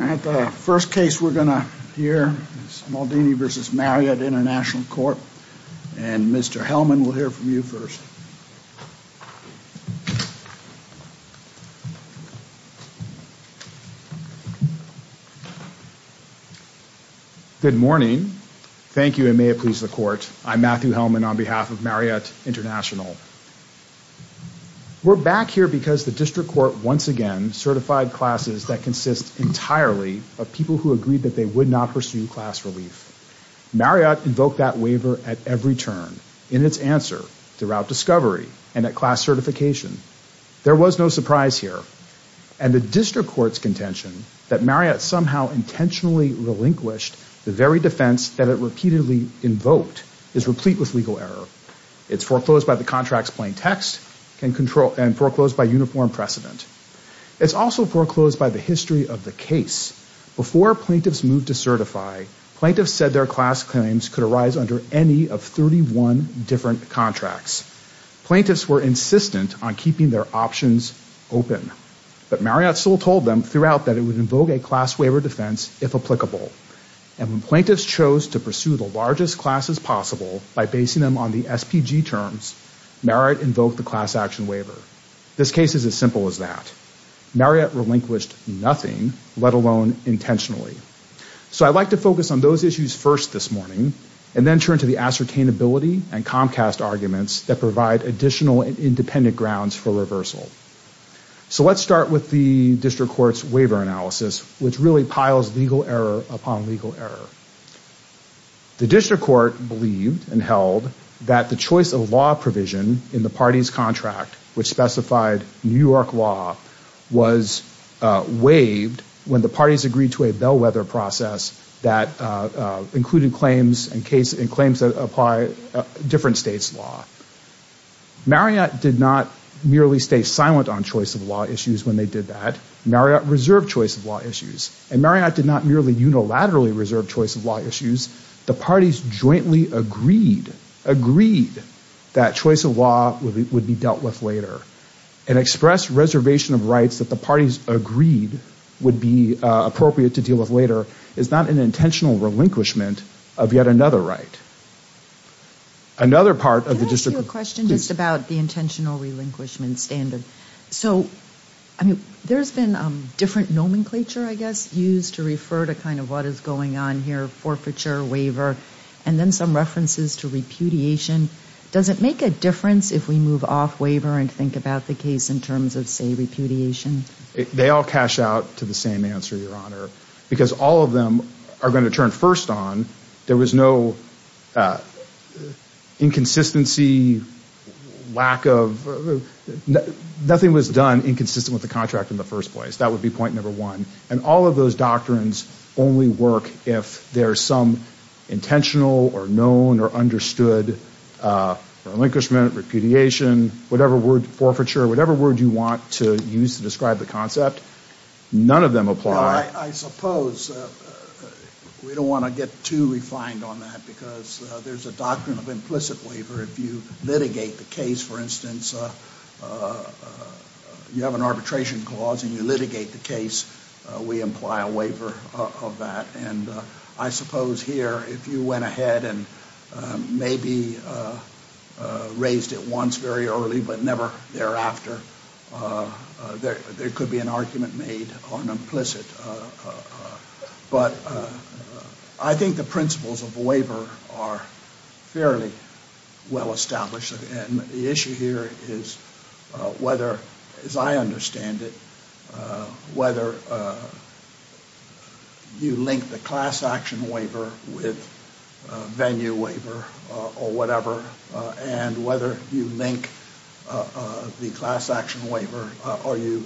At the first case we're going to hear is Maldini v. Marriott International Court, and Mr. Hellman will hear from you first. Good morning. Thank you, and may it please the Court. I'm Matthew Hellman on behalf of Marriott International. We're back here because the District Court once again certified classes that consist entirely of people who agreed that they would not pursue class relief. Marriott invoked that waiver at every turn, in its answer, throughout discovery, and at class certification. There was no surprise here, and the District Court's contention that Marriott somehow intentionally relinquished the very defense that it repeatedly invoked is replete with legal error. It's foreclosed by the contract's plain text, and foreclosed by uniform precedent. It's also foreclosed by the history of the case. Before plaintiffs moved to certify, plaintiffs said their class claims could arise under any of 31 different contracts. Plaintiffs were insistent on keeping their options open, but Marriott still told them throughout that it would invoke a class waiver defense if applicable, and when plaintiffs chose to pursue the largest classes possible by basing them on the SPG terms, Marriott invoked the class action waiver. This case is as simple as that. Marriott relinquished nothing, let alone intentionally. So I'd like to focus on those issues first this morning, and then turn to the ascertainability and Comcast arguments that provide additional and independent grounds for reversal. So let's start with the District Court's waiver analysis, which really piles legal error upon legal error. The District Court believed and held that the choice of law provision in the party's contract, which specified New York law, was waived when the parties agreed to a bellwether process that included claims and claims that apply different states' law. Marriott did not merely stay silent on choice of law issues when they did that. Marriott reserved choice of law issues, and Marriott did not merely unilaterally reserve choice of law issues. The parties jointly agreed that choice of law would be dealt with later. An expressed reservation of rights that the parties agreed would be appropriate to deal with later is not an intentional relinquishment of yet another right. Another part of the District Court... Can I ask you a question just about the intentional relinquishment standard? So, I mean, there's been different nomenclature, I guess, used to refer to kind of what is going on here, forfeiture, waiver, and then some references to repudiation. Does it make a difference if we move off waiver and think about the case in terms of, say, repudiation? They all cash out to the same answer, Your Honor, because all of them are going to turn first on. There was no inconsistency, lack of...nothing was done inconsistent with the contract in the first place. That would be point number one. And all of those doctrines only work if there's some intentional or known or understood relinquishment, repudiation, whatever word, forfeiture, whatever word you want to use to describe the concept. None of them apply. I suppose we don't want to get too refined on that because there's a doctrine of implicit waiver. If you litigate the case, for instance, you have an arbitration clause and you litigate the case, we imply a waiver of that. And I suppose here if you went ahead and maybe raised it once very early but never thereafter, there could be an argument made on implicit. But I think the principles of waiver are fairly well established. And the issue here is whether, as I understand it, whether you link the class action waiver with venue waiver or whatever and whether you link the class action waiver or you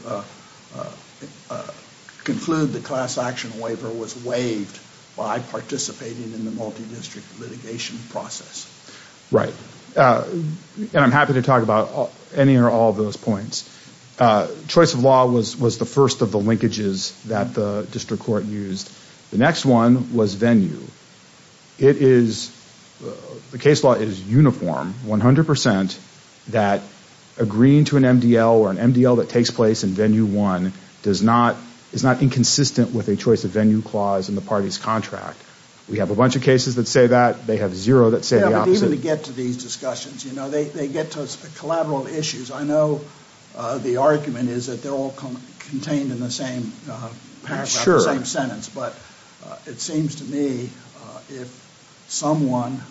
conclude the class action waiver was waived by participating in the multi-district litigation process. Right. And I'm happy to talk about any or all of those points. Choice of law was the first of the linkages that the district court used. The next one was venue. It is, the case law is uniform, 100 percent, that agreeing to an MDL or an MDL that takes place in venue one is not inconsistent with a choice of venue clause in the party's contract. We have a bunch of cases that say that. They have zero that say the opposite. Yeah, but even to get to these discussions, you know, they get to collateral issues. I know the argument is that they're all contained in the same paragraph, the same sentence. But it seems to me if someone,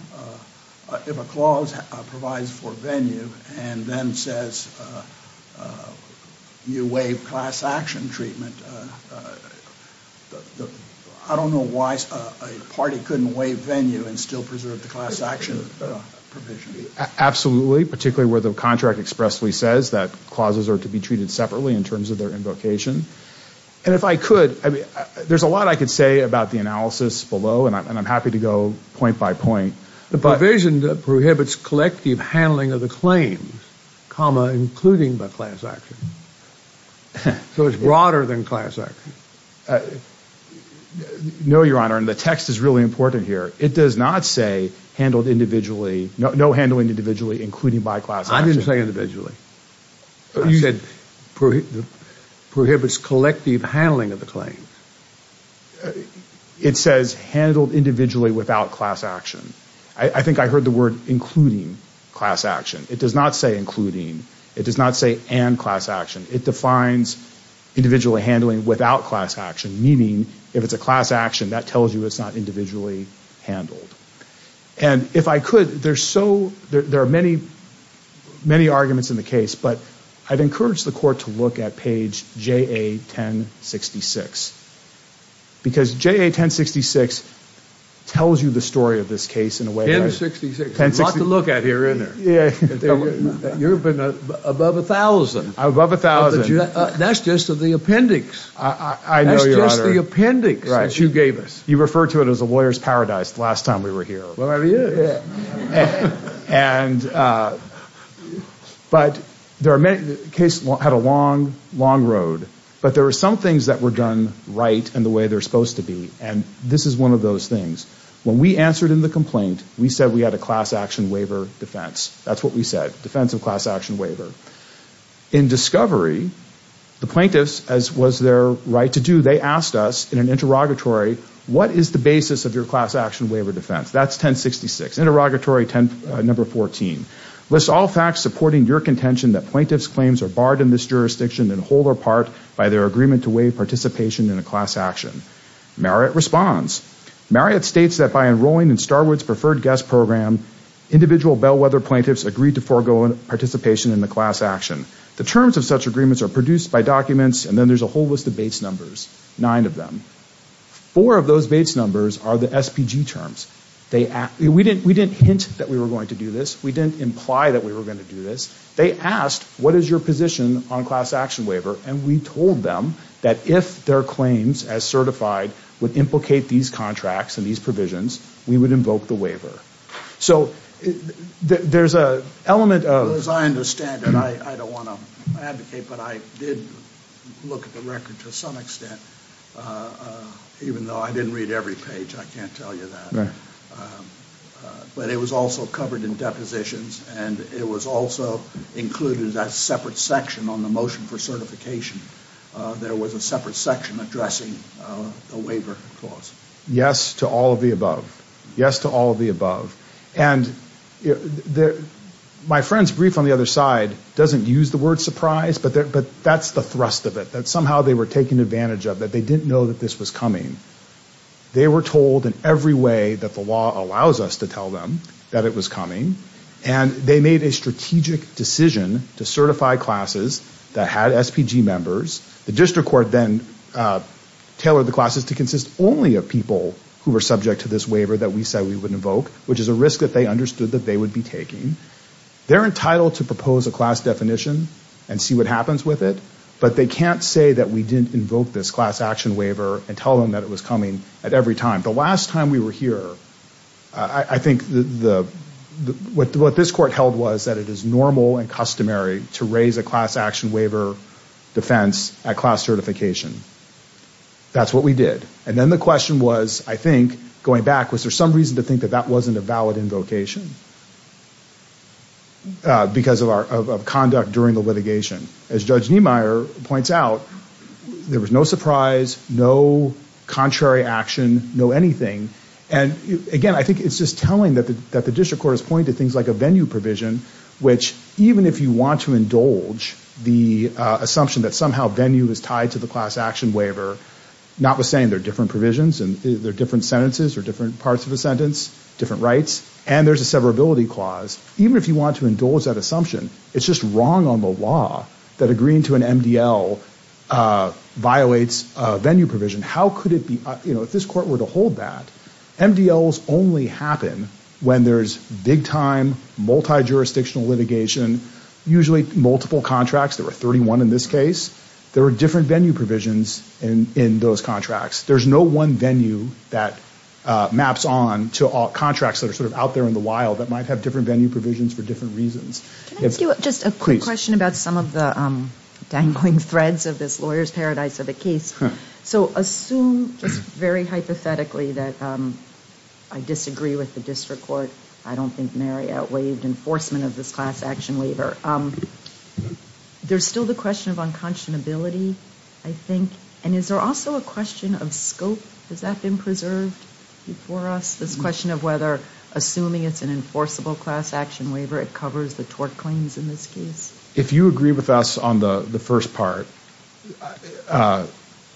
if a clause provides for venue and then says you waive class action treatment, I don't know why a party couldn't waive venue and still preserve the class action provision. Absolutely, particularly where the contract expressly says that clauses are to be treated the analysis below, and I'm happy to go point by point. The provision prohibits collective handling of the claims, including by class action. So it's broader than class action. No, Your Honor, and the text is really important here. It does not say handled individually, no handling individually, including by class action. I didn't say individually. I said prohibits collective handling of the claims. It says handled individually without class action. I think I heard the word including class action. It does not say including. It does not say and class action. It defines individually handling without class action, meaning if it's a class action, that tells you it's not individually handled. And if I could, there's so, there are many, many arguments in the case, but I'd encourage the court to look at page JA 1066, because JA 1066 tells you the story of this case in a way that 1066, a lot to look at here, isn't there? You've been above a thousand. Above a thousand. That's just the appendix. I know, Your Honor. That's just the appendix that you gave us. You referred to it as a lawyer's paradise the last time we were here. Well, it is. And, but there are many, the case had a long, long road. But there are some things that were done right and the way they're supposed to be. And this is one of those things. When we answered in the complaint, we said we had a class action waiver defense. That's what we said. Defense of class action waiver. In discovery, the plaintiffs, as was their right to do, they asked us in an interrogatory, what is the basis of your class action waiver defense? That's 1066. Interrogatory number 14. List all facts supporting your contention that plaintiff's claims are barred in this jurisdiction and hold apart by their agreement to waive participation in a class action. Marriott responds. Marriott states that by enrolling in Starwood's preferred guest program, individual Bellwether plaintiffs agreed to forego participation in the class action. The terms of such agreements are produced by documents and then there's a whole list of base numbers. Nine of them. Four of those base numbers are the SPG terms. We didn't hint that we were going to do this. We didn't imply that we were going to do this. They asked, what is your position on class action waiver? And we told them that if their claims, as certified, would implicate these contracts and these provisions, we would invoke the waiver. So there's an element of... As I understand it, I don't want to advocate, but I did look at the record to some extent. Even though I didn't read every page, I can't tell you that. But it was also covered in depositions and it was also included in that separate section on the motion for certification. There was a separate section addressing the waiver clause. Yes to all of the above. Yes to all of the above. And my friend's brief on the other side doesn't use the word surprise, but that's the thrust of it. That somehow they were taken advantage of. That they didn't know that this was coming. They were told in every way that the law allows us to tell them that it was coming. And they made a strategic decision to certify classes that had SPG members. The district court then tailored the classes to consist only of people who were subject to this waiver that we said we would invoke, which is a risk that they understood that they would be taking. They're entitled to propose a class definition and see what happens with it, but they can't say that we didn't invoke this class action waiver and tell them that it was coming at every time. The last time we were here, I think what this court held was that it is normal and customary to raise a class action waiver defense at class certification. That's what we did. And then the question was, I think, going back, was there some reason to think that that wasn't a valid invocation because of conduct during the litigation? As Judge Niemeyer points out, there was no surprise, no contrary action, no anything. And, again, I think it's just telling that the district court has pointed to things like a venue provision, which even if you want to indulge the assumption that somehow venue is tied to the class action waiver, notwithstanding there are different provisions and there are different sentences or different parts of a sentence, different rights, and there's a severability clause, even if you want to indulge that assumption, it's just wrong on the law that agreeing to an MDL violates venue provision. How could it be? If this court were to hold that, MDLs only happen when there's big-time, multi-jurisdictional litigation, usually multiple contracts. There were 31 in this case. There were different venue provisions in those contracts. There's no one venue that maps on to contracts that are sort of out there in the wild that might have different venue provisions for different reasons. Can I ask you just a quick question about some of the dangling threads of this lawyer's paradise of a case? So assume just very hypothetically that I disagree with the district court. I don't think Mary outweighed enforcement of this class action waiver. There's still the question of unconscionability, I think, and is there also a question of scope? Has that been preserved for us, this question of whether assuming it's an enforceable class action waiver, it covers the tort claims in this case? If you agree with us on the first part,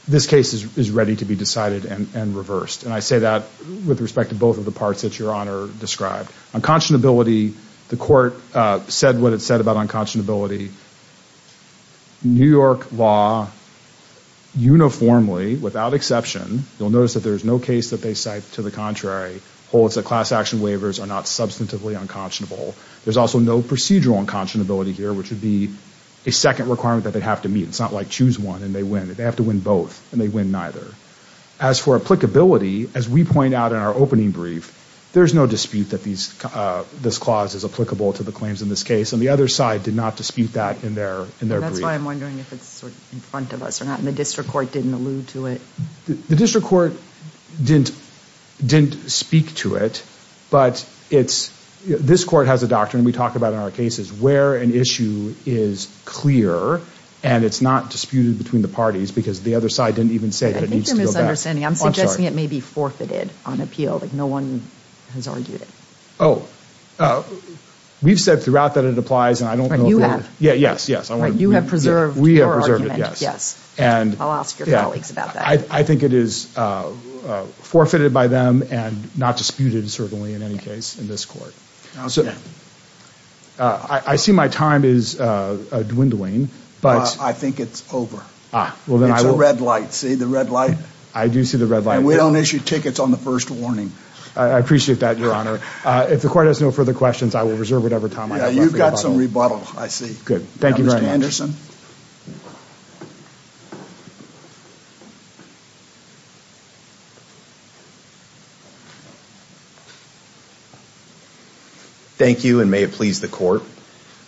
this case is ready to be decided and reversed, and I say that with respect to both of the parts that Your Honor described. Unconscionability, the court said what it said about unconscionability. New York law uniformly, without exception, you'll notice that there's no case that they cite to the contrary, holds that class action waivers are not substantively unconscionable. There's also no procedural unconscionability here, which would be a second requirement that they'd have to meet. It's not like choose one and they win. They have to win both, and they win neither. As for applicability, as we point out in our opening brief, there's no dispute that this clause is applicable to the claims in this case, and the other side did not dispute that in their brief. And that's why I'm wondering if it's sort of in front of us or not, and the district court didn't allude to it. The district court didn't speak to it, but this court has a doctrine we talk about in our cases where an issue is clear and it's not disputed between the parties because the other side didn't even say that it needs to go back. I think you're misunderstanding. I'm suggesting it may be forfeited on appeal. No one has argued it. Oh, we've said throughout that it applies, and I don't know if you have. You have. Yes, yes. You have preserved your argument. We have preserved it, yes. Yes. I'll ask your colleagues about that. I think it is forfeited by them and not disputed, certainly, in any case, in this court. I see my time is dwindling. I think it's over. It's a red light. See the red light? I do see the red light. And we don't issue tickets on the first warning. I appreciate that, Your Honor. If the court has no further questions, I will reserve whatever time I have left. You've got some rebuttal, I see. Good. Thank you very much. Devin Anderson. Thank you, and may it please the court.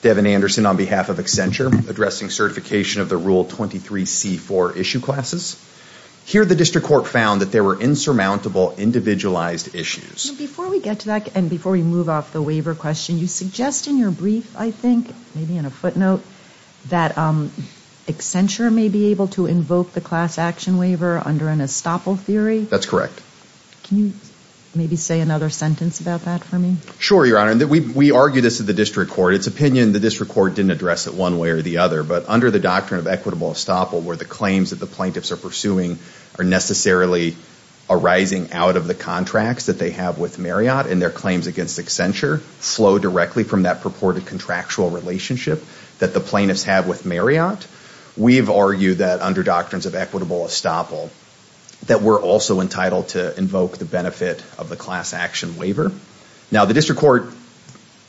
Devin Anderson on behalf of Accenture, addressing certification of the Rule 23c4 issue classes. Here the district court found that there were insurmountable individualized issues. Before we get to that, and before we move off the waiver question, you suggest in your brief, I think, maybe in a footnote, that Accenture may be able to invoke the class action waiver under an estoppel theory? That's correct. Can you maybe say another sentence about that for me? Sure, Your Honor. We argue this at the district court. It's opinion the district court didn't address it one way or the other, but under the doctrine of equitable estoppel, where the claims that the plaintiffs are pursuing are necessarily arising out of the contracts that they have with Marriott and their claims against Accenture flow directly from that purported contractual relationship that the plaintiffs have with Marriott, we've argued that under doctrines of equitable estoppel, that we're also entitled to invoke the benefit of the class action waiver. Now, the district court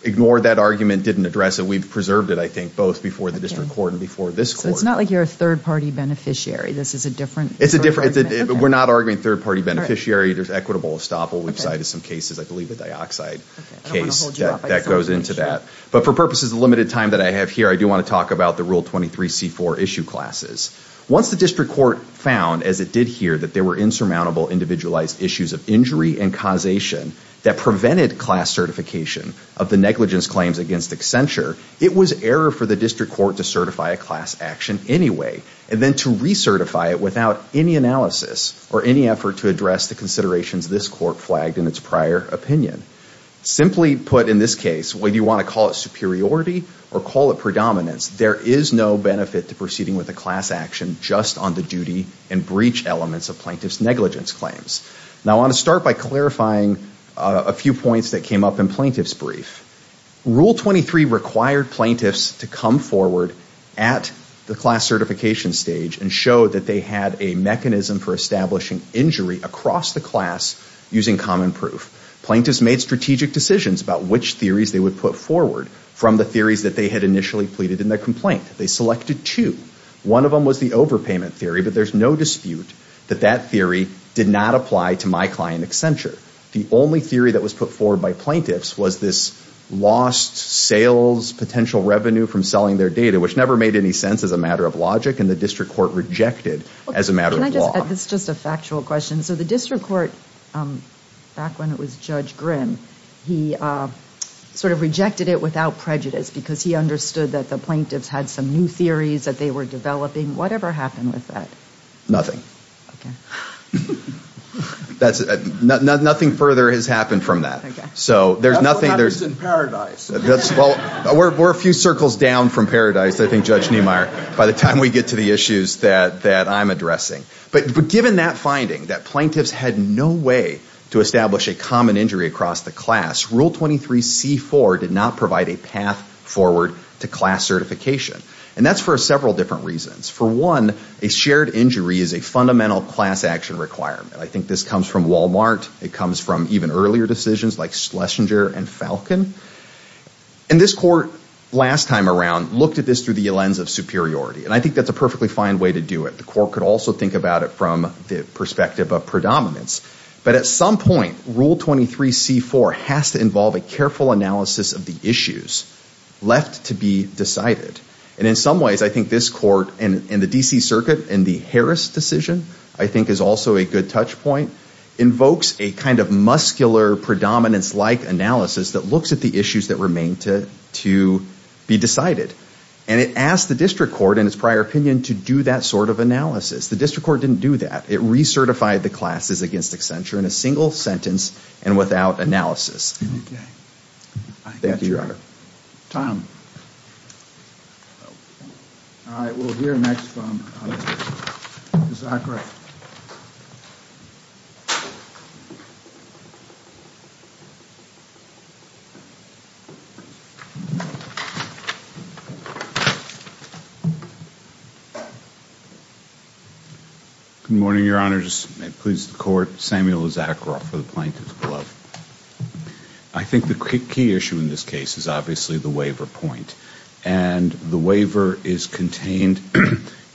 ignored that argument, didn't address it. We've preserved it, I think, both before the district court and before this court. So it's not like you're a third-party beneficiary. This is a different argument. It's a different – we're not arguing third-party beneficiary. There's equitable estoppel. We've cited some cases, I believe a dioxide case that goes into that. But for purposes of the limited time that I have here, I do want to talk about the Rule 23c4 issue classes. Once the district court found, as it did here, that there were insurmountable individualized issues of injury and causation that prevented class certification of the negligence claims against Accenture, it was error for the district court to certify a class action anyway and then to recertify it without any analysis or any effort to address the considerations this court flagged in its prior opinion. Simply put in this case, whether you want to call it superiority or call it predominance, there is no benefit to proceeding with a class action just on the duty and breach elements of plaintiff's negligence claims. Now, I want to start by clarifying a few points that came up in plaintiff's brief. Rule 23 required plaintiffs to come forward at the class certification stage and show that they had a mechanism for establishing injury across the class using common proof. Plaintiffs made strategic decisions about which theories they would put forward from the theories that they had initially pleaded in their complaint. They selected two. One of them was the overpayment theory, but there's no dispute that that theory did not apply to my client, Accenture. The only theory that was put forward by plaintiffs was this lost sales, potential revenue from selling their data, which never made any sense as a matter of logic, and the district court rejected as a matter of law. It's just a factual question. So the district court, back when it was Judge Grimm, he sort of rejected it without prejudice because he understood that the plaintiffs had some new theories that they were developing. Whatever happened with that? Nothing. Nothing further has happened from that. That's what happens in Paradise. We're a few circles down from Paradise, I think, Judge Niemeyer, by the time we get to the issues that I'm addressing. But given that finding, that plaintiffs had no way to establish a common injury across the class, Rule 23c4 did not provide a path forward to class certification. And that's for several different reasons. For one, a shared injury is a fundamental class action requirement. I think this comes from Walmart. It comes from even earlier decisions like Schlesinger and Falcon. And this court, last time around, looked at this through the lens of superiority. And I think that's a perfectly fine way to do it. The court could also think about it from the perspective of predominance. But at some point, Rule 23c4 has to involve a careful analysis of the issues left to be decided. And in some ways, I think this court, and the D.C. Circuit, and the Harris decision, I think is also a good touchpoint, invokes a kind of muscular, predominance-like analysis that looks at the issues that remain to be decided. And it asked the district court, in its prior opinion, to do that sort of analysis. The district court didn't do that. It recertified the classes against Accenture in a single sentence and without analysis. Thank you, Your Honor. Tom. All right. We'll hear next from Samuel Issacharoff. Good morning, Your Honors. May it please the Court. Samuel Issacharoff for the Plaintiffs' Club. I think the key issue in this case is obviously the waiver point. And the waiver is contained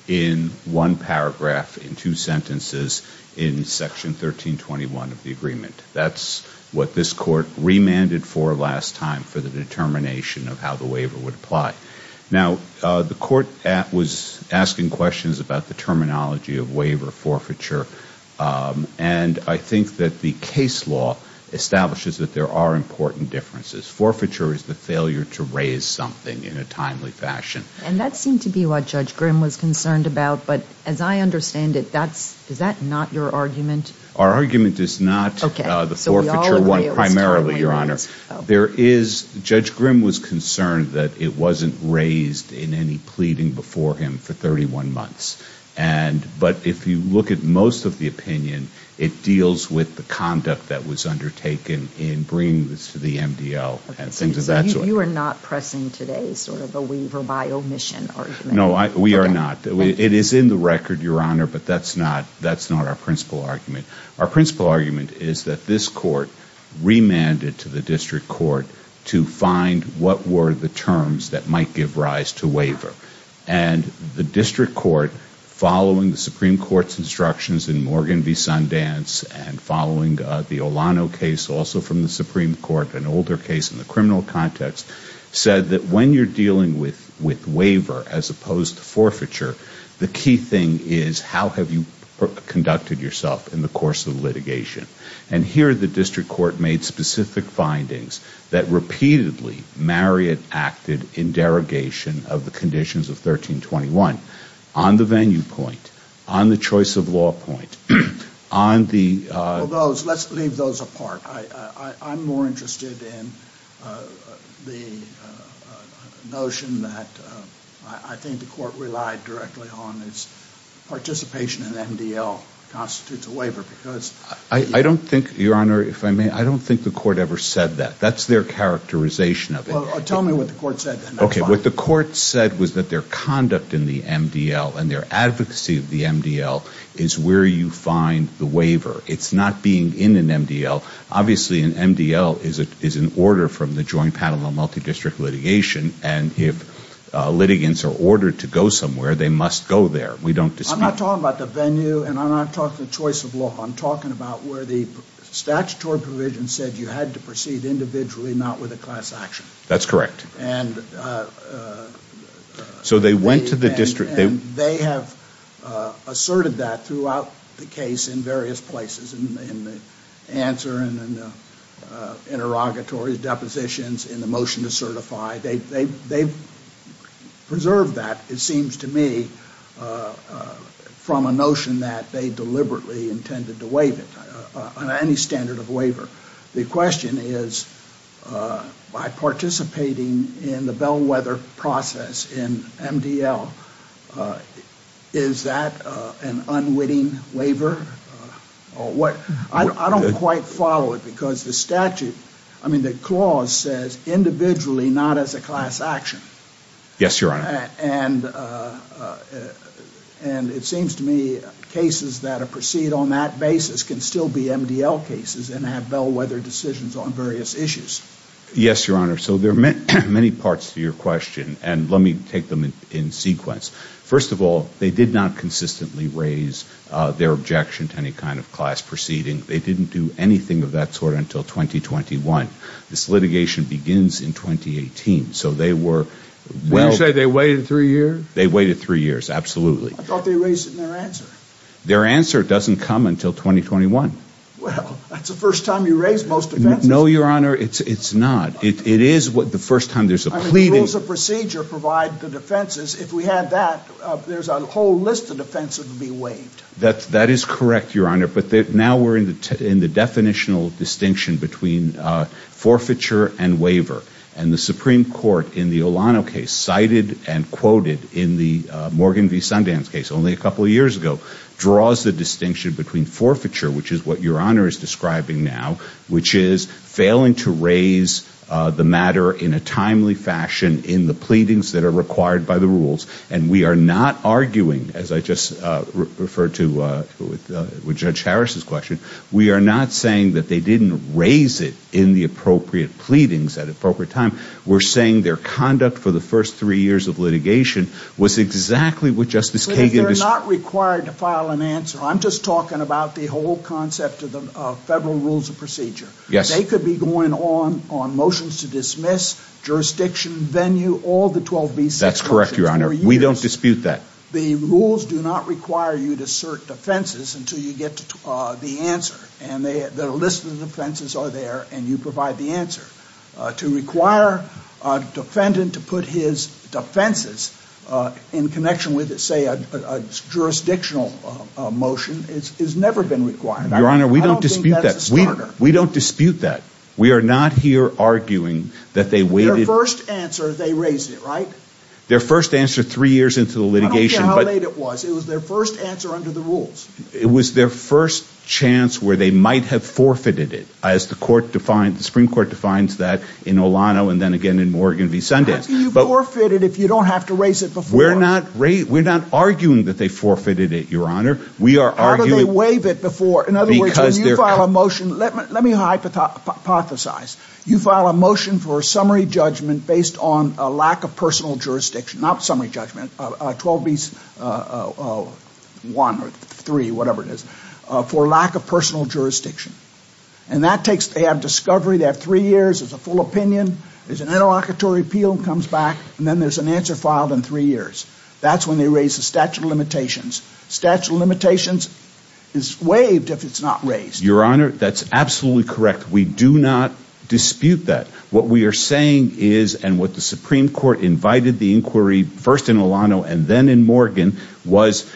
in one paragraph, in two sentences, in Section 1321 of the agreement. That's what this court remanded for last time for the determination of how the waiver would apply. Now, the court was asking questions about the terminology of waiver forfeiture. And I think that the case law establishes that there are important differences. Forfeiture is the failure to raise something in a timely fashion. And that seemed to be what Judge Grimm was concerned about. But as I understand it, is that not your argument? Our argument is not the forfeiture one primarily, Your Honor. Judge Grimm was concerned that it wasn't raised in any pleading before him for 31 months. But if you look at most of the opinion, it deals with the conduct that was undertaken in bringing this to the MDL. So you are not pressing today sort of a waiver by omission argument? No, we are not. It is in the record, Your Honor, but that's not our principal argument. Our principal argument is that this court remanded to the district court to find what were the terms that might give rise to waiver. And the district court, following the Supreme Court's instructions in Morgan v. Sundance and following the Olano case also from the Supreme Court, an older case in the criminal context, said that when you are dealing with waiver as opposed to forfeiture, the key thing is how have you conducted yourself in the course of litigation. And here the district court made specific findings that repeatedly Marriott acted in derogation of the conditions of 1321. On the venue point, on the choice of law point, on the... Well, those, let's leave those apart. I'm more interested in the notion that I think the court relied directly on is participation in MDL constitutes a waiver because... I don't think, Your Honor, if I may, I don't think the court ever said that. That's their characterization of it. Well, tell me what the court said. Okay. What the court said was that their conduct in the MDL and their advocacy of the MDL is where you find the waiver. It's not being in an MDL. Obviously, an MDL is an order from the Joint Panel on Multidistrict Litigation, and if litigants are ordered to go somewhere, they must go there. We don't dispute... I'm not talking about the venue, and I'm not talking the choice of law. I'm talking about where the statutory provision said you had to proceed individually, not with a class action. That's correct. And... So they went to the district... They have asserted that throughout the case in various places, in the answer and in the interrogatory depositions, in the motion to certify. They've preserved that, it seems to me, from a notion that they deliberately intended to waive it on any standard of waiver. The question is, by participating in the bellwether process in MDL, is that an unwitting waiver? I don't quite follow it because the statute... I mean, the clause says individually, not as a class action. Yes, Your Honor. And it seems to me cases that proceed on that basis can still be MDL cases and have bellwether decisions on various issues. Yes, Your Honor. So there are many parts to your question, and let me take them in sequence. First of all, they did not consistently raise their objection to any kind of class proceeding. They didn't do anything of that sort until 2021. This litigation begins in 2018, so they were... Did you say they waited three years? They waited three years, absolutely. I thought they raised it in their answer. Their answer doesn't come until 2021. Well, that's the first time you raise most offenses. No, Your Honor, it's not. It is the first time there's a plea... I mean, the rules of procedure provide the defenses. If we had that, there's a whole list of defenses that would be waived. That is correct, Your Honor. But now we're in the definitional distinction between forfeiture and waiver. And the Supreme Court, in the Olano case, cited and quoted in the Morgan v. Sundance case only a couple of years ago, draws the distinction between forfeiture, which is what Your Honor is describing now, which is failing to raise the matter in a timely fashion in the pleadings that are required by the rules. And we are not arguing, as I just referred to with Judge Harris's question, we are not saying that they didn't raise it in the appropriate pleadings at the appropriate time. We're saying their conduct for the first three years of litigation was exactly what Justice Kagan... They're not required to file an answer. I'm just talking about the whole concept of the federal rules of procedure. Yes. They could be going on motions to dismiss, jurisdiction, venue, all the 12B6... That's correct, Your Honor. We don't dispute that. The rules do not require you to assert defenses until you get the answer. And the list of defenses are there, and you provide the answer. To require a defendant to put his defenses in connection with, say, a jurisdictional motion has never been required. Your Honor, we don't dispute that. I don't think that's a starter. We don't dispute that. We are not here arguing that they waited... Their first answer, they raised it, right? Their first answer three years into the litigation... I don't care how late it was. It was their first answer under the rules. It was their first chance where they might have forfeited it, as the Supreme Court defines that in Olano and then again in Morgan v. Sundance. How can you forfeit it if you don't have to raise it before? We're not arguing that they forfeited it, Your Honor. How do they waive it before? Let me hypothesize. You file a motion for a summary judgment based on a lack of personal jurisdiction, not summary judgment, 12B01 or 03, whatever it is, for lack of personal jurisdiction. And that takes, they have discovery. They have three years. There's a full opinion. There's an interlocutory appeal that comes back, and then there's an answer filed in three years. That's when they raise the statute of limitations. Statute of limitations is waived if it's not raised. Your Honor, that's absolutely correct. We do not dispute that. What we are saying is, and what the Supreme Court invited the inquiry first in Olano and then in Morgan, was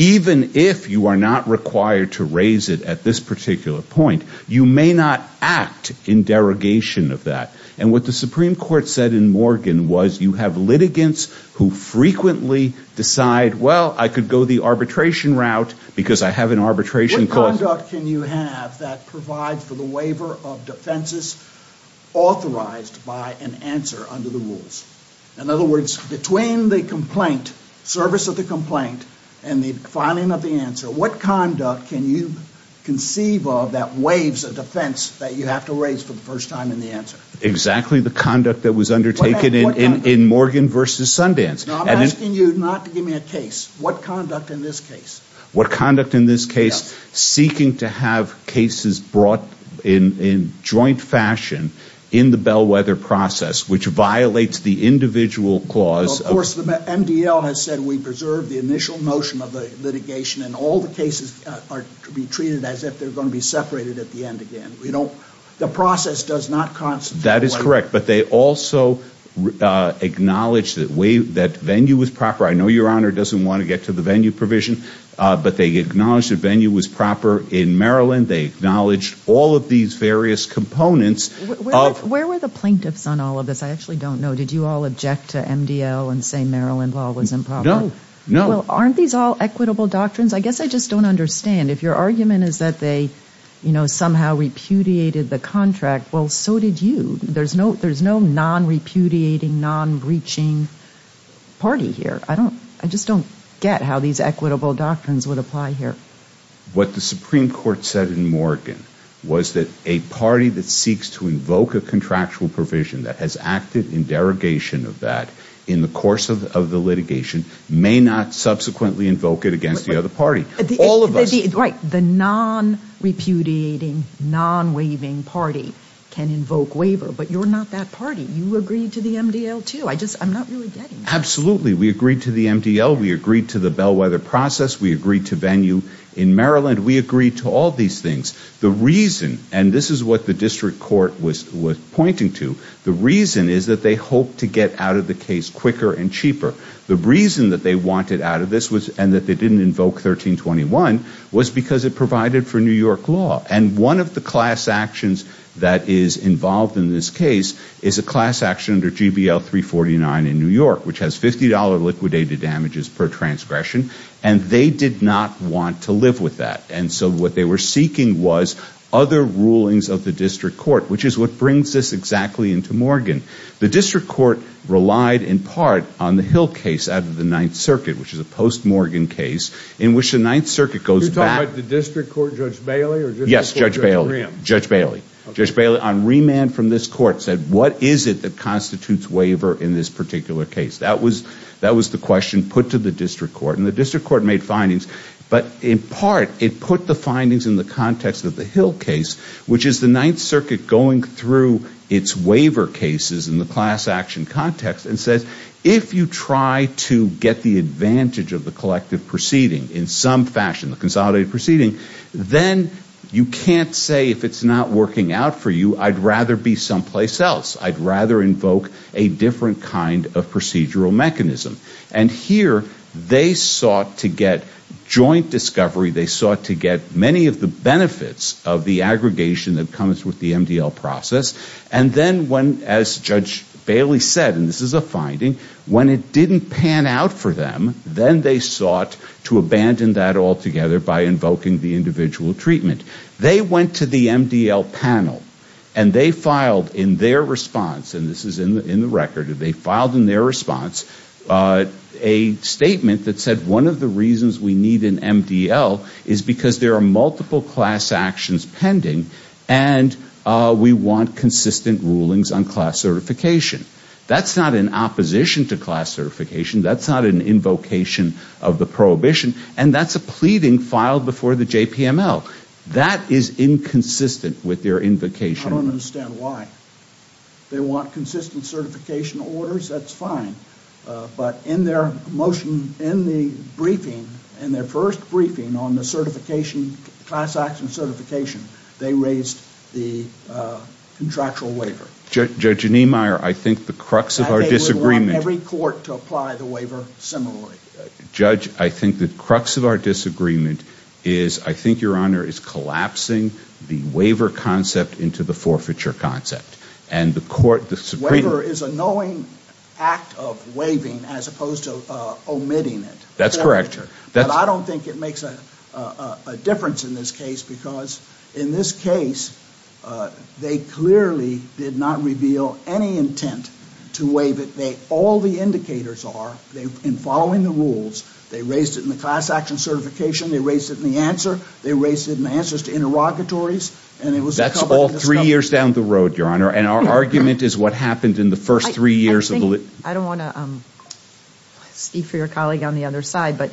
even if you are not required to raise it at this particular point, you may not act in derogation of that. And what the Supreme Court said in Morgan was you have litigants who frequently decide, well, I could go the arbitration route because I have an arbitration clause. What conduct can you have that provides for the waiver of defenses authorized by an answer under the rules? In other words, between the complaint, service of the complaint, and the filing of the answer, what conduct can you conceive of that waives a defense that you have to raise for the first time in the answer? Exactly the conduct that was undertaken in Morgan v. Sundance. I'm asking you not to give me a case. What conduct in this case? What conduct in this case? Seeking to have cases brought in joint fashion in the Bellwether process, which violates the individual clause. Of course, the MDL has said we preserve the initial notion of the litigation, and all the cases are to be treated as if they're going to be separated at the end again. The process does not constitute a waiver. That is correct, but they also acknowledge that venue was proper. I know Your Honor doesn't want to get to the venue provision, but they acknowledge that venue was proper in Maryland. They acknowledge all of these various components. Where were the plaintiffs on all of this? I actually don't know. Did you all object to MDL and say Maryland law was improper? No. Well, aren't these all equitable doctrines? I guess I just don't understand. If your argument is that they somehow repudiated the contract, well, so did you. There's no non-repudiating, non-breaching party here. I just don't get how these equitable doctrines would apply here. What the Supreme Court said in Morgan was that a party that seeks to invoke a contractual provision that has acted in derogation of that in the course of the litigation may not subsequently invoke it against the other party. Right. The non-repudiating, non-waiving party can invoke waiver, but you're not that party. You agreed to the MDL, too. I'm not really getting that. Absolutely. We agreed to the MDL. We agreed to the bellwether process. We agreed to venue in Maryland. We agreed to all these things. The reason, and this is what the district court was pointing to, the reason is that they hoped to get out of the case quicker and cheaper. The reason that they wanted out of this and that they didn't invoke 1321 was because it provided for New York law. And one of the class actions that is involved in this case is a class action under GBL 349 in New York, which has $50 liquidated damages per transgression, and they did not want to live with that. And so what they were seeking was other rulings of the district court, which is what brings this exactly into Morgan. The district court relied in part on the Hill case out of the Ninth Circuit, which is a post-Morgan case in which the Ninth Circuit goes back. You're talking about the district court, Judge Bailey, or district court Judge Rim? Yes, Judge Bailey. Judge Bailey. Judge Bailey, on remand from this court, said, what is it that constitutes waiver in this particular case? That was the question put to the district court, and the district court made findings. But in part, it put the findings in the context of the Hill case, which is the Ninth Circuit going through its waiver cases in the class action context and says, if you try to get the advantage of the collective proceeding in some fashion, the consolidated proceeding, then you can't say if it's not working out for you, I'd rather be someplace else. I'd rather invoke a different kind of procedural mechanism. And here, they sought to get joint discovery, they sought to get many of the benefits of the aggregation that comes with the MDL process, and then when, as Judge Bailey said, and this is a finding, when it didn't pan out for them, then they sought to abandon that altogether by invoking the individual treatment. They went to the MDL panel, and they filed in their response, and this is in the record, they filed in their response a statement that said, one of the reasons we need an MDL is because there are multiple class actions pending, and we want consistent rulings on class certification. That's not in opposition to class certification, that's not an invocation of the prohibition, and that's a pleading filed before the JPML. That is inconsistent with their invocation. I don't understand why. They want consistent certification orders, that's fine. But in their motion, in the briefing, in their first briefing on the certification, class action certification, they raised the contractual waiver. Judge Niemeyer, I think the crux of our disagreement. They would want every court to apply the waiver similarly. Judge, I think the crux of our disagreement is, I think Your Honor, is collapsing the waiver concept into the forfeiture concept. And the court, the Supreme Court. Waiver is a knowing act of waiving as opposed to omitting it. That's correct, Your Honor. But I don't think it makes a difference in this case, because in this case, they clearly did not reveal any intent to waive it. All the indicators are, in following the rules, they raised it in the class action certification, they raised it in the answer, they raised it in the answers to interrogatories. That's all three years down the road, Your Honor, and our argument is what happened in the first three years. I don't want to speak for your colleague on the other side, but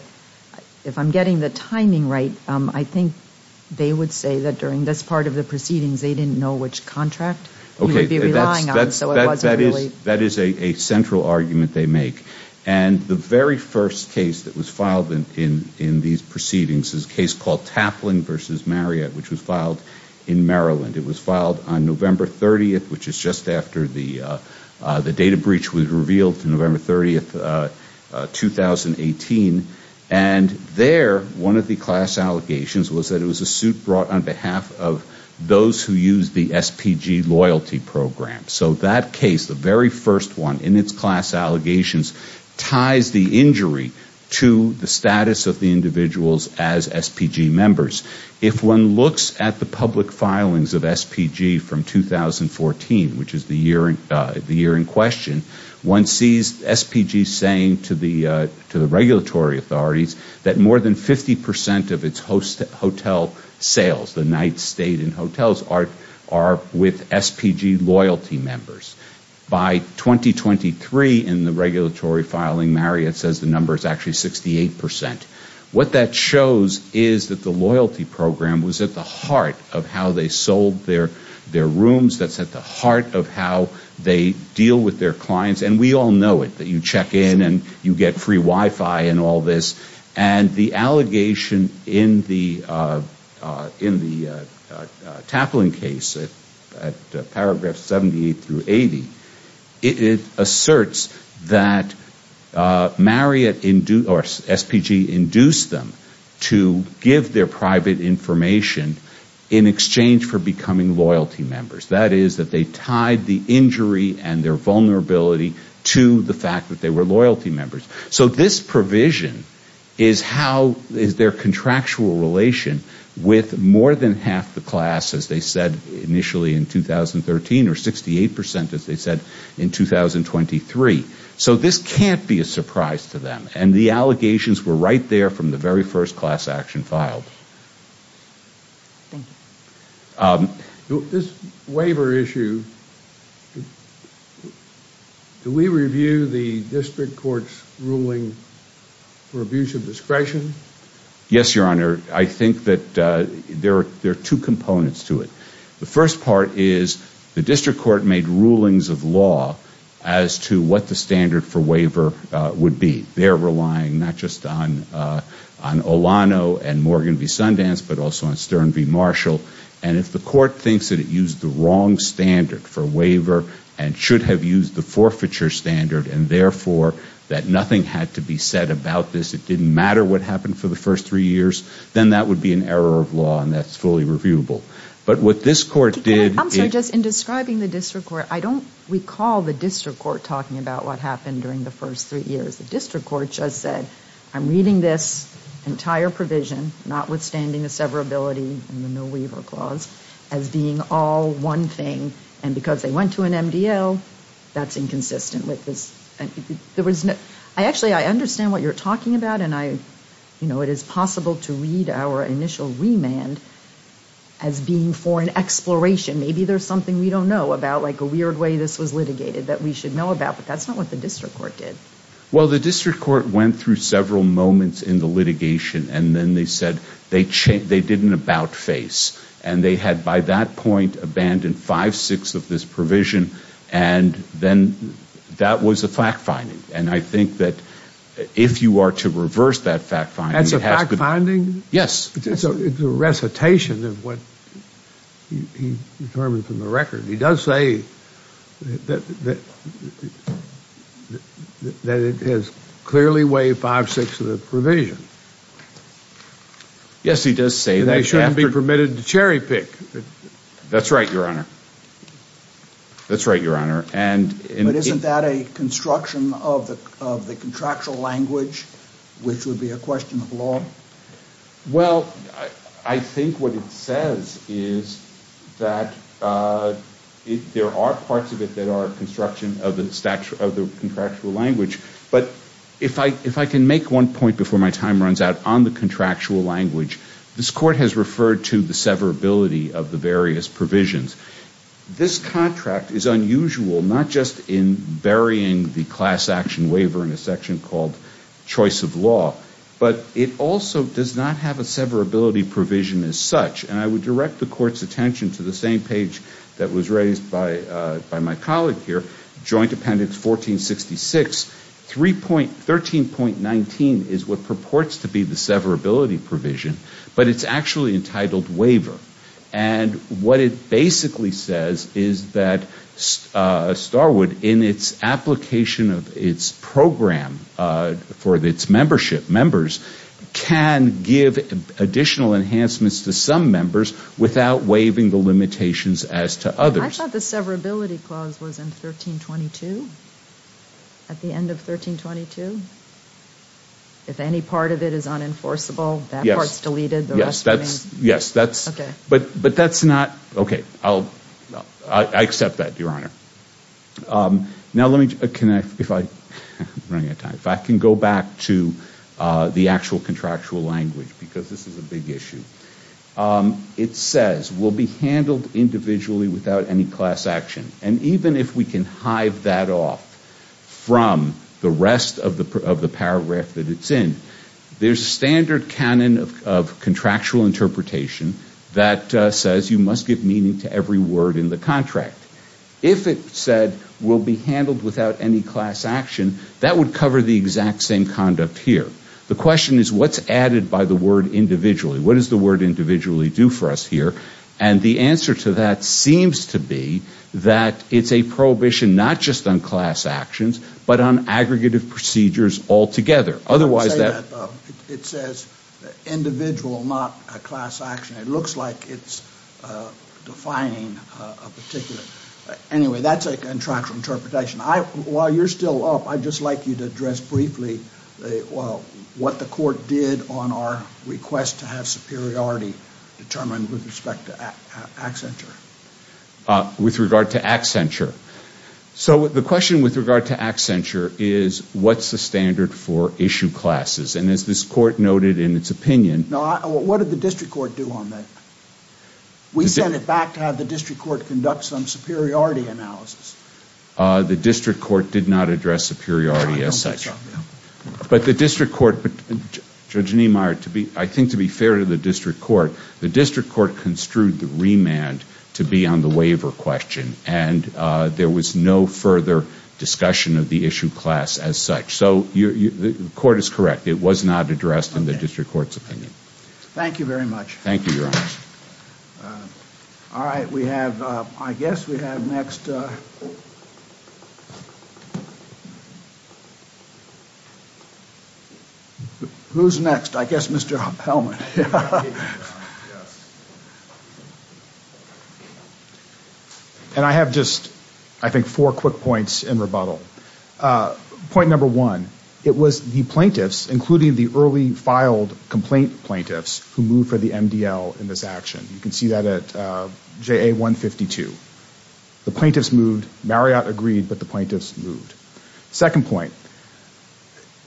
if I'm getting the timing right, I think they would say that during this part of the proceedings, they didn't know which contract you would be relying on. That is a central argument they make. And the very first case that was filed in these proceedings is a case called Taplin v. Marriott, which was filed in Maryland. It was filed on November 30th, which is just after the data breach was revealed, November 30th, 2018. And there, one of the class allegations was that it was a suit brought on behalf of those who used the SPG loyalty program. So that case, the very first one in its class allegations, ties the injury to the status of the individuals as SPG members. If one looks at the public filings of SPG from 2014, which is the year in question, one sees SPG saying to the regulatory authorities that more than 50% of its hotel sales, the nights stayed in hotels, are with SPG loyalty members. By 2023, in the regulatory filing, Marriott says the number is actually 68%. What that shows is that the loyalty program was at the heart of how they sold their rooms. That's at the heart of how they deal with their clients. And we all know it, that you check in and you get free Wi-Fi and all this. And the allegation in the Taplin case at paragraph 78 through 80, it asserts that Marriott or SPG induced them to give their private information in exchange for becoming loyalty members. That is, that they tied the injury and their vulnerability to the fact that they were loyalty members. So this provision is their contractual relation with more than half the class, as they said initially in 2013, or 68%, as they said in 2023. So this can't be a surprise to them. And the allegations were right there from the very first class action filed. Thank you. This waiver issue, do we review the district court's ruling for abuse of discretion? Yes, Your Honor. I think that there are two components to it. The first part is the district court made rulings of law as to what the standard for waiver would be. They're relying not just on Olano and Morgan v. Sundance, but also on Stern v. Marshall. And if the court thinks that it used the wrong standard for waiver and should have used the forfeiture standard and, therefore, that nothing had to be said about this, it didn't matter what happened for the first three years, then that would be an error of law and that's fully reviewable. But what this court did... I'm sorry, just in describing the district court, I don't recall the district court talking about what happened during the first three years. The district court just said, I'm reading this entire provision, notwithstanding the severability and the no waiver clause, as being all one thing. And because they went to an MDL, that's inconsistent with this. Actually, I understand what you're talking about and it is possible to read our initial remand as being for an exploration. Maybe there's something we don't know about, like a weird way this was litigated that we should know about. But that's not what the district court did. Well, the district court went through several moments in the litigation and then they said they didn't about face. And they had, by that point, abandoned five-sixths of this provision and then that was a fact-finding. And I think that if you are to reverse that fact-finding... That's a fact-finding? Yes. It's a recitation of what he determined from the record. He does say that it has clearly waived five-sixths of the provision. Yes, he does say that. And it shouldn't be permitted to cherry-pick. That's right, Your Honor. That's right, Your Honor. But isn't that a construction of the contractual language, which would be a question of law? Well, I think what it says is that there are parts of it that are construction of the contractual language. But if I can make one point before my time runs out on the contractual language, this Court has referred to the severability of the various provisions. This contract is unusual not just in burying the class action waiver in a section called choice of law, but it also does not have a severability provision as such. And I would direct the Court's attention to the same page that was raised by my colleague here, Joint Appendix 1466. 13.19 is what purports to be the severability provision, but it's actually entitled waiver. And what it basically says is that Starwood, in its application of its program for its membership members, can give additional enhancements to some members without waiving the limitations as to others. I thought the severability clause was in 13.22, at the end of 13.22. If any part of it is unenforceable, that part's deleted. Yes, that's, yes, that's, but that's not, okay, I'll, I accept that, Your Honor. Now let me, can I, if I, I'm running out of time, if I can go back to the actual contractual language, because this is a big issue. It says, will be handled individually without any class action. And even if we can hive that off from the rest of the paragraph that it's in, there's a standard canon of contractual interpretation that says you must give meaning to every word in the contract. If it said, will be handled without any class action, that would cover the exact same conduct here. The question is, what's added by the word individually? What does the word individually do for us here? And the answer to that seems to be that it's a prohibition not just on class actions, but on aggregative procedures altogether. Otherwise that. It says individual, not a class action. It looks like it's defining a particular. Anyway, that's a contractual interpretation. While you're still up, I'd just like you to address briefly what the court did on our request to have superiority determined with respect to accenture. With regard to accenture. So the question with regard to accenture is, what's the standard for issue classes? And as this court noted in its opinion. What did the district court do on that? We sent it back to have the district court conduct some superiority analysis. The district court did not address superiority as such. But the district court, Judge Niemeyer, I think to be fair to the district court, the district court construed the remand to be on the waiver question. And there was no further discussion of the issue class as such. So the court is correct. It was not addressed in the district court's opinion. Thank you very much. Thank you, Your Honor. All right. We have, I guess we have next. Who's next? I guess Mr. Hellman. And I have just, I think, four quick points in rebuttal. Point number one. It was the plaintiffs, including the early filed complaint plaintiffs, who moved for the MDL in this action. You can see that at JA 152. The plaintiffs moved. Marriott agreed, but the plaintiffs moved. Second point.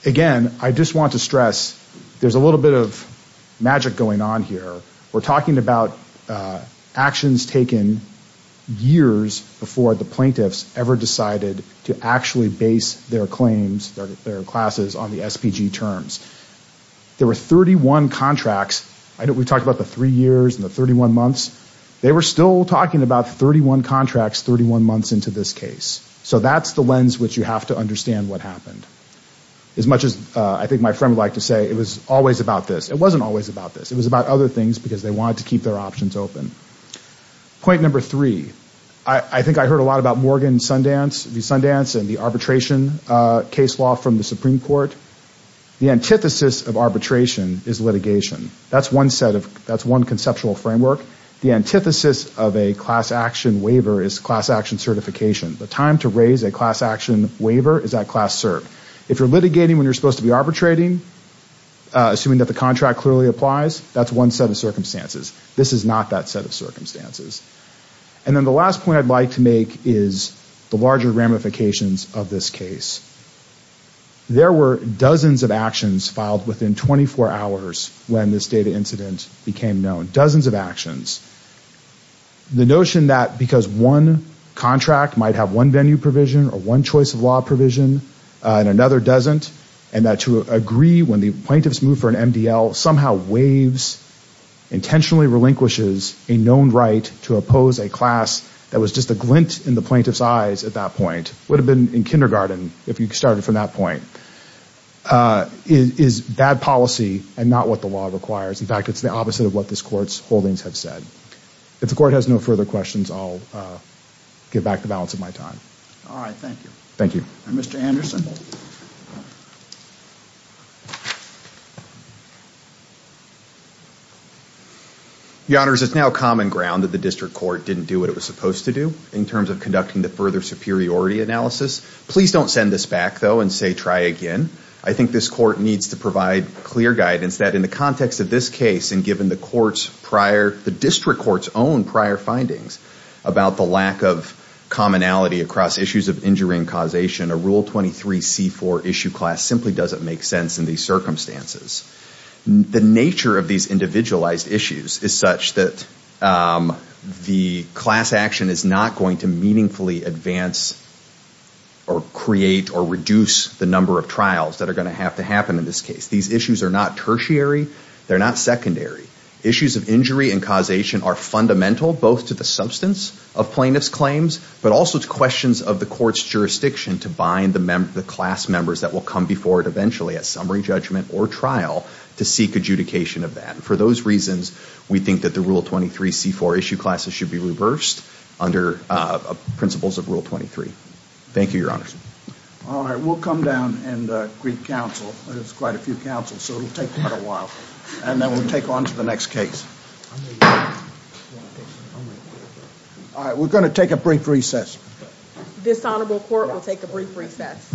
Again, I just want to stress there's a little bit of magic going on here. We're talking about actions taken years before the plaintiffs ever decided to actually base their claims, their classes on the SPG terms. There were 31 contracts. We talked about the three years and the 31 months. They were still talking about 31 contracts 31 months into this case. So that's the lens which you have to understand what happened. As much as I think my friend would like to say it was always about this. It wasn't always about this. It was about other things because they wanted to keep their options open. Point number three. I think I heard a lot about Morgan Sundance and the arbitration case law from the Supreme Court. The antithesis of arbitration is litigation. That's one conceptual framework. The antithesis of a class action waiver is class action certification. The time to raise a class action waiver is at class cert. If you're litigating when you're supposed to be arbitrating, assuming that the contract clearly applies, that's one set of circumstances. This is not that set of circumstances. And then the last point I'd like to make is the larger ramifications of this case. There were dozens of actions filed within 24 hours when this data incident became known. Dozens of actions. The notion that because one contract might have one venue provision or one choice of law provision and another doesn't and that to agree when the plaintiffs move for an MDL somehow waives, intentionally relinquishes a known right to oppose a class that was just a glint in the plaintiff's eyes at that point, would have been in kindergarten if you started from that point, is bad policy and not what the law requires. In fact, it's the opposite of what this Court's holdings have said. If the Court has no further questions, I'll give back the balance of my time. All right. Thank you. Thank you. Mr. Anderson. Your Honors, it's now common ground that the District Court didn't do what it was supposed to do in terms of conducting the further superiority analysis. Please don't send this back, though, and say try again. I think this Court needs to provide clear guidance that in the context of this case and given the District Court's own prior findings about the lack of commonality across issues of injury and causation, a Rule 23C4 issue class simply doesn't make sense in these circumstances. The nature of these individualized issues is such that the class action is not going to meaningfully advance or create or reduce the number of trials that are going to have to happen in this case. These issues are not tertiary. They're not secondary. Issues of injury and causation are fundamental both to the substance of plaintiff's claims but also to questions of the Court's jurisdiction to bind the class members that will come before it eventually at summary judgment or trial to seek adjudication of that. For those reasons, we think that the Rule 23C4 issue classes should be reversed under principles of Rule 23. Thank you, Your Honors. All right, we'll come down and greet counsel. There's quite a few counsels, so it'll take quite a while. And then we'll take on to the next case. All right, we're going to take a brief recess. This Honorable Court will take a brief recess.